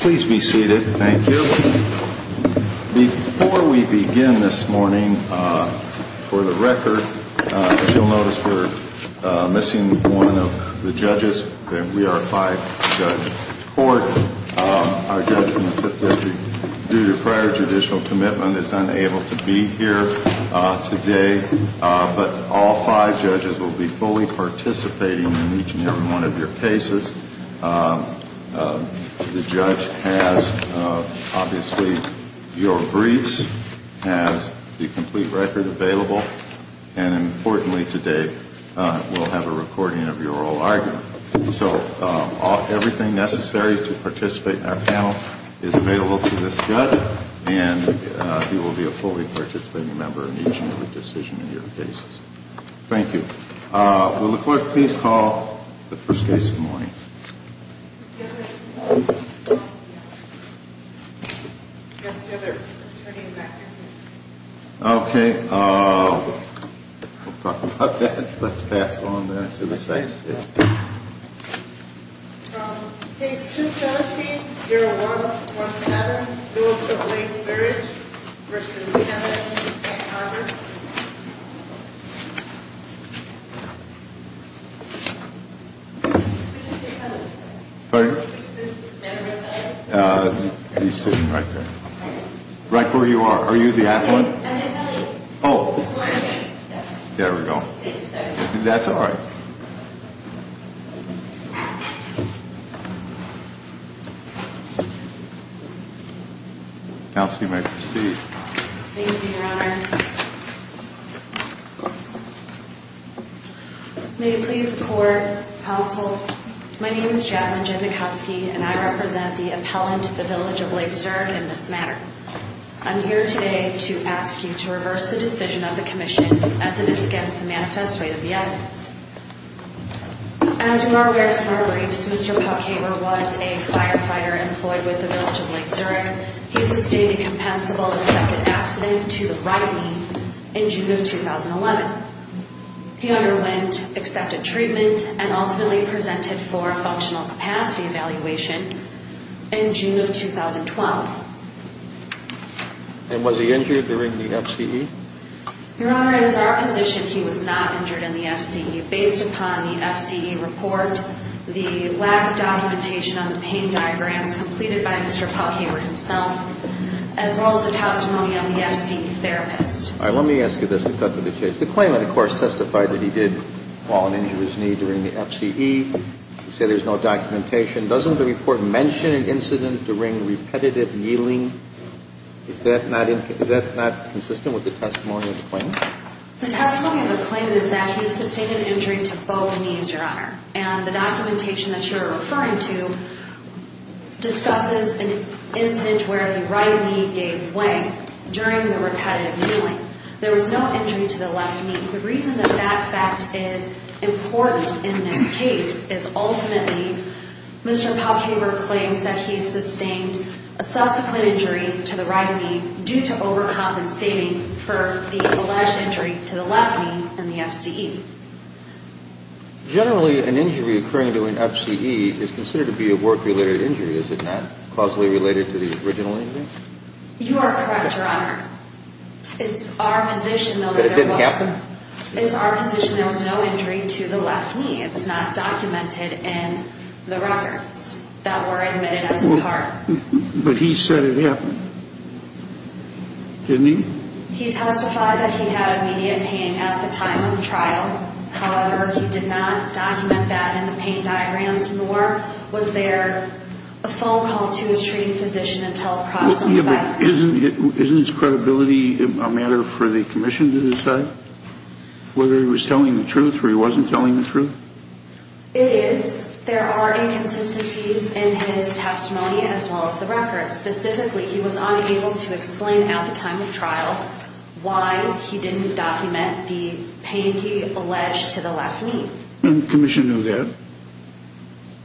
Please be seated. Thank you. Before we begin this morning, for the record, you'll notice we're missing one of the judges. We are a five-judge court. Our judge from the Fifth District, due to prior judicial commitment, is unable to be here today. But all five judges will be fully participating in each and every one of your cases. The judge has, obviously, your briefs, has the complete record available, and importantly, today we'll have a recording of your oral argument. So everything necessary to participate in our panel is available to this judge, and he will be a fully participating member in each and every decision in your cases. Thank you. Will the clerk please call the first case of the morning? Yes, Heather. I'm turning it back to you. Okay. We'll talk about that. Let's pass on that to the side. Case 217-0117, Bill of the Lake Zurich v. Kenneth and Margaret. Right where you are. Are you the athlete? Oh. There we go. That's all right. Counsel, you may proceed. Thank you, Your Honor. May it please the court, counsels, my name is Jacqueline Genachowski, and I represent the appellant, the Village of Lake Zurich, in this matter. I'm here today to ask you to reverse the decision of the commission as it is against the manifest way of the evidence. As you are aware from our briefs, Mr. Puckhamer was a firefighter employed with the Village of Lake Zurich. He sustained a compensable accepted accident to the right knee in June of 2011. He underwent accepted treatment and ultimately presented for a functional capacity evaluation in June of 2012. And was he injured during the FCE? Your Honor, it is our position he was not injured in the FCE. Based upon the FCE report, the lack of documentation on the pain diagrams completed by Mr. Puckhamer himself, as well as the testimony of the FCE therapist. All right. Let me ask you this to cut to the chase. The claimant, of course, testified that he did fall and injure his knee during the FCE. You say there's no documentation. Doesn't the report mention an incident during repetitive kneeling? Is that not consistent with the testimony of the claimant? The testimony of the claimant is that he sustained an injury to both knees, Your Honor. And the documentation that you're referring to discusses an incident where the right knee gave way during the repetitive kneeling. There was no injury to the left knee. The reason that that fact is important in this case is ultimately Mr. Puckhamer claims that he sustained a subsequent injury to the right knee due to overcompensating for the alleged injury to the left knee in the FCE. Generally, an injury occurring to an FCE is considered to be a work-related injury. Is it not causally related to the original injury? You are correct, Your Honor. But it didn't happen? It's our position there was no injury to the left knee. It's not documented in the records that were admitted as a part. But he said it happened. Didn't he? He testified that he had immediate pain at the time of the trial. However, he did not document that in the pain diagrams, nor was there a phone call to his treating physician until approximately 5 o'clock. Isn't his credibility a matter for the commission to decide whether he was telling the truth or he wasn't telling the truth? It is. There are inconsistencies in his testimony as well as the records. Specifically, he was unable to explain at the time of trial why he didn't document the pain he alleged to the left knee. And the commission knew that?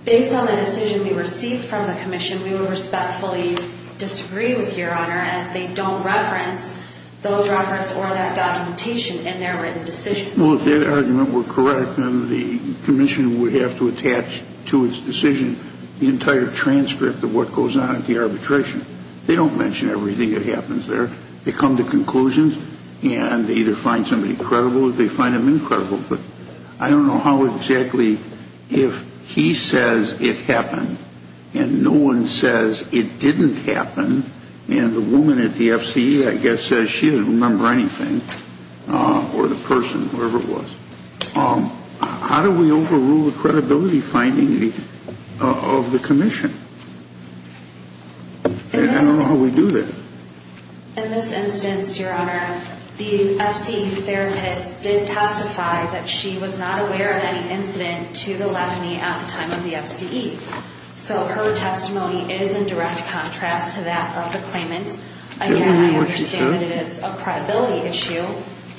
Based on the decision we received from the commission, we would respectfully disagree with you, Your Honor, as they don't reference those records or that documentation in their written decision. Well, if that argument were correct, then the commission would have to attach to its decision the entire transcript of what goes on at the arbitration. They don't mention everything that happens there. They come to conclusions, and they either find somebody credible or they find them incredible. But I don't know how exactly, if he says it happened and no one says it didn't happen, and the woman at the F.C.E., I guess, says she doesn't remember anything, or the person, whoever it was, how do we overrule the credibility finding of the commission? I don't know how we do that. In this instance, Your Honor, the F.C.E. therapist did testify that she was not aware of any incident to the left knee at the time of the F.C.E. So her testimony is in direct contrast to that of the claimant's. Again, I understand that it is a credibility issue,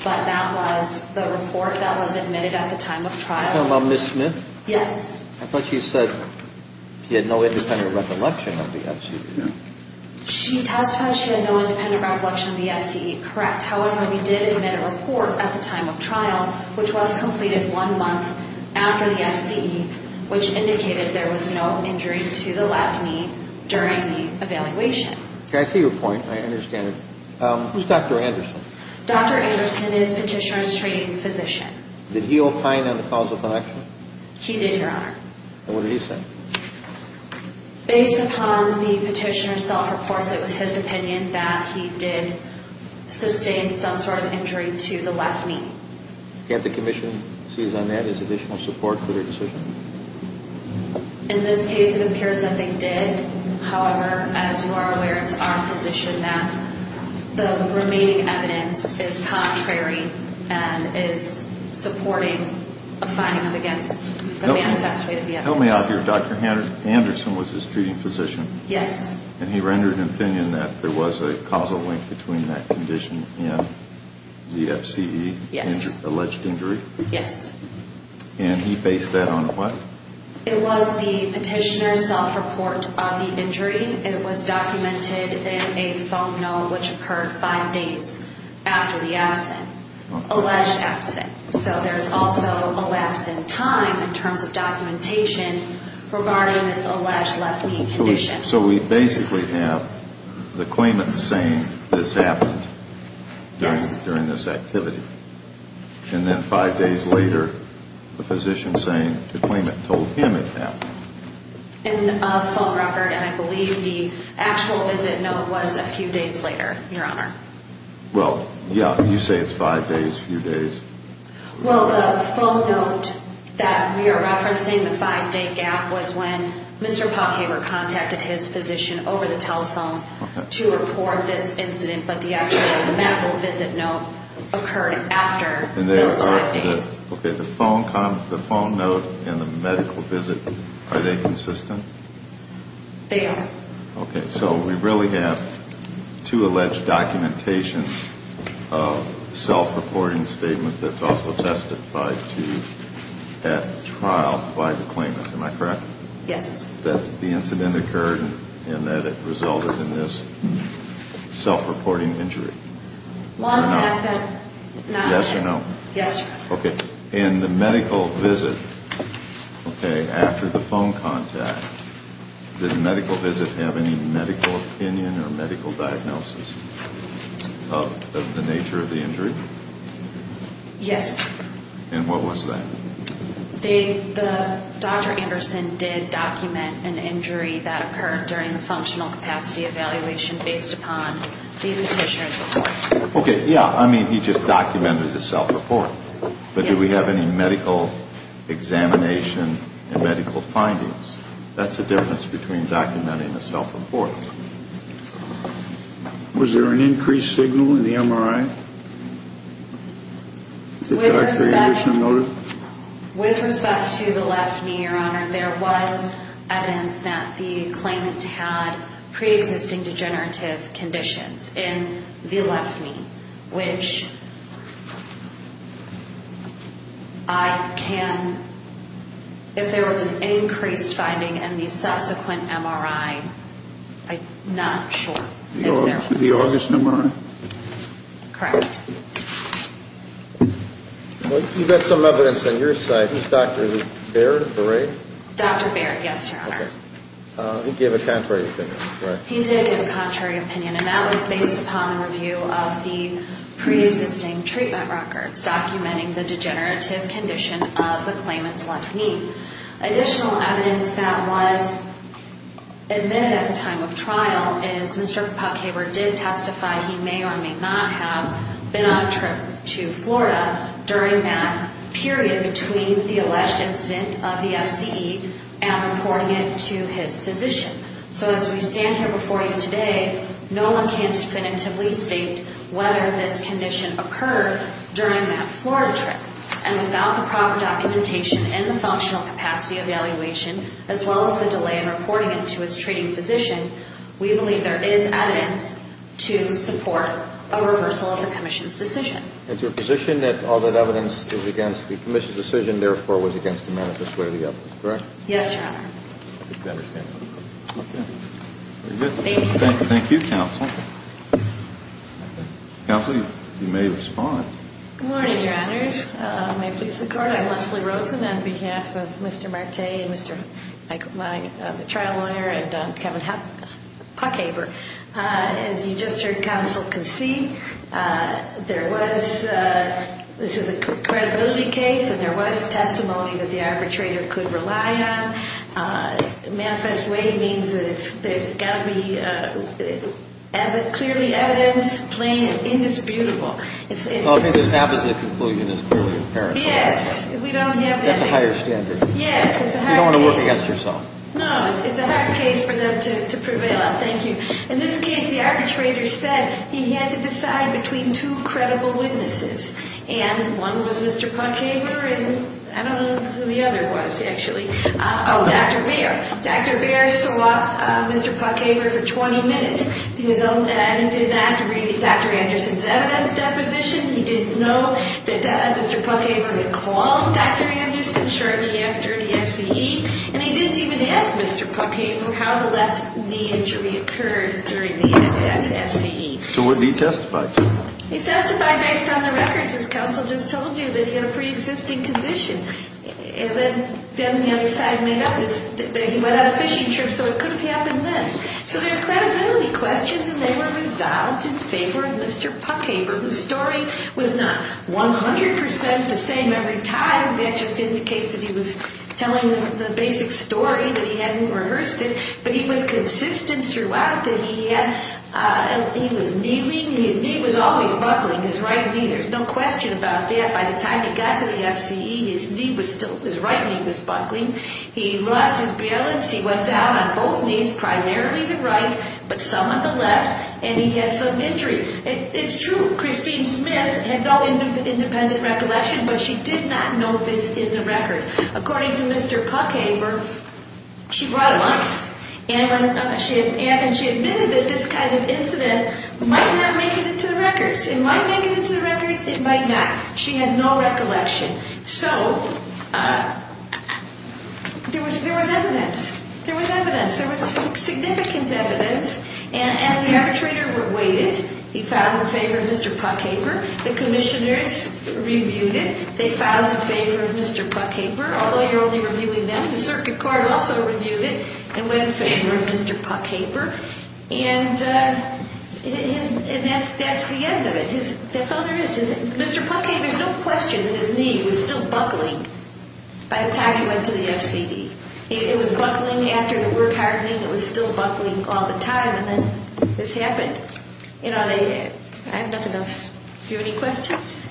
but that was the report that was admitted at the time of trial. Are you talking about Ms. Smith? Yes. I thought she said she had no independent recollection of the F.C.E. No. She testified she had no independent recollection of the F.C.E. Correct. However, we did admit a report at the time of trial, which was completed one month after the F.C.E., which indicated there was no injury to the left knee during the evaluation. Okay. I see your point. I understand it. Who's Dr. Anderson? Dr. Anderson is Petitioner's training physician. Did he opine on the causal connection? He did, Your Honor. And what did he say? Based upon the Petitioner's self-reports, it was his opinion that he did sustain some sort of injury to the left knee. Can't the commission seize on that as additional support for their decision? In this case, it appears that they did. However, as you are aware, it's our position that the remaining evidence is contrary and is supporting a finding against the man who testified at the F.C.E. Tell me out here, Dr. Anderson was his treating physician. Yes. And he rendered an opinion that there was a causal link between that condition and the F.C.E. Yes. Alleged injury. Yes. And he based that on what? It was the Petitioner's self-report of the injury. It was documented in a phone note, which occurred five days after the accident, alleged accident. So there's also a lapse in time in terms of documentation regarding this alleged left knee condition. So we basically have the claimant saying this happened during this activity. Yes. And then five days later, the physician saying the claimant told him it happened. In a phone record, and I believe the actual visit note was a few days later, Your Honor. Well, yeah, you say it's five days, a few days. Well, the phone note that we are referencing, the five-day gap, was when Mr. Potcaper contacted his physician over the telephone to report this incident, but the actual medical visit note occurred after those five days. Okay, the phone note and the medical visit, are they consistent? They are. Okay, so we really have two alleged documentations of self-reporting statement that's also testified to at trial by the claimant, am I correct? Yes. That the incident occurred and that it resulted in this self-reporting injury. Yes or no? Yes, Your Honor. Okay, in the medical visit, okay, after the phone contact, did the medical visit have any medical opinion or medical diagnosis of the nature of the injury? Yes. And what was that? Dr. Anderson did document an injury that occurred during the functional capacity evaluation based upon the petitioner's report. Okay, yeah, I mean he just documented the self-report, but do we have any medical examination and medical findings? That's the difference between documenting a self-report. Was there an increased signal in the MRI? With respect to the left knee, Your Honor, there was evidence that the claimant had pre-existing degenerative conditions in the left knee, which I can, if there was an increased finding in the subsequent MRI, I'm not sure. The August MRI? Correct. You've got some evidence on your side. Is it Dr. Baird? Dr. Baird, yes, Your Honor. He gave a contrary opinion, right? He did give a contrary opinion, and that was based upon the review of the pre-existing treatment records documenting the degenerative condition of the claimant's left knee. Additional evidence that was admitted at the time of trial is Mr. Puckhaber did testify he may or may not have been on a trip to Florida during that period between the alleged incident of the FCE and reporting it to his physician. So as we stand here before you today, no one can definitively state whether this condition occurred during that Florida trip. And without the proper documentation and the functional capacity evaluation, as well as the delay in reporting it to his treating physician, we believe there is evidence to support a reversal of the commission's decision. And to a position that all that evidence is against the commission's decision, therefore, was against the manifest way of the evidence, correct? Yes, Your Honor. Thank you, Counsel. Counsel, you may respond. Good morning, Your Honors. May it please the Court, I'm Leslie Rosen on behalf of Mr. Marte, and Mr. Michael Meyer, the trial lawyer, and Kevin Puckhaber. As you just heard Counsel concede, there was a credibility case, and there was testimony that the arbitrator could rely on. Manifest way means that it's got to be clearly evidence, plain and indisputable. I think the opposite conclusion is clearly apparent. Yes. That's a higher standard. Yes. You don't want to work against yourself. No, it's a hard case for them to prevail on. Thank you. In this case, the arbitrator said he had to decide between two credible witnesses, and one was Mr. Puckhaber, and I don't know who the other was, actually. Oh, Dr. Beer. Dr. Beer saw Mr. Puckhaber for 20 minutes, and he did that to read Dr. Anderson's evidence deposition. He didn't know that Mr. Puckhaber had called Dr. Anderson shortly after the FCE, and he didn't even ask Mr. Puckhaber how the left knee injury occurred during the FCE. So what did he testify to? He testified based on the records, as Counsel just told you, that he had a preexisting condition. Then the other side made up that he went on a fishing trip, so it could have happened then. So there's credibility questions, and they were resolved in favor of Mr. Puckhaber, whose story was not 100% the same every time. That just indicates that he was telling the basic story, that he hadn't rehearsed it, but he was consistent throughout that he was kneeling, and his knee was always buckling, his right knee. There's no question about that. By the time he got to the FCE, his right knee was buckling. He lost his balance. He went down on both knees, primarily the right, but some on the left, and he had some injury. It's true, Christine Smith had no independent recollection, but she did not note this in the record. According to Mr. Puckhaber, she brought it up, and she admitted that this kind of incident might not make it into the records. It might make it into the records. It might not. She had no recollection. So there was evidence. There was evidence. There was significant evidence, and the arbitrator waited. He filed in favor of Mr. Puckhaber. The commissioners reviewed it. They filed in favor of Mr. Puckhaber, although you're only reviewing them. The circuit court also reviewed it and went in favor of Mr. Puckhaber, and that's the end of it. That's all there is. Mr. Puckhaber's no question that his knee was still buckling by the time he went to the FCD. It was buckling after the work hardening. It was still buckling all the time, and then this happened. You know, I have nothing else. Do you have any questions?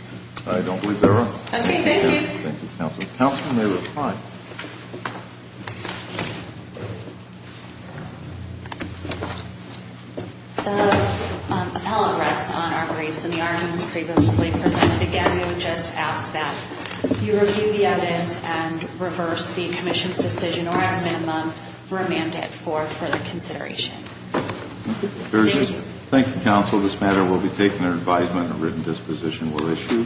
I don't believe there are. Okay, thank you. Thank you, counsel. Counsel may reply. The appellate rests on our briefs and the arguments previously presented. Again, we would just ask that you review the evidence and reverse the commission's decision or at a minimum remand it for further consideration. Thank you, counsel. This matter will be taken under advisement and a written disposition will issue.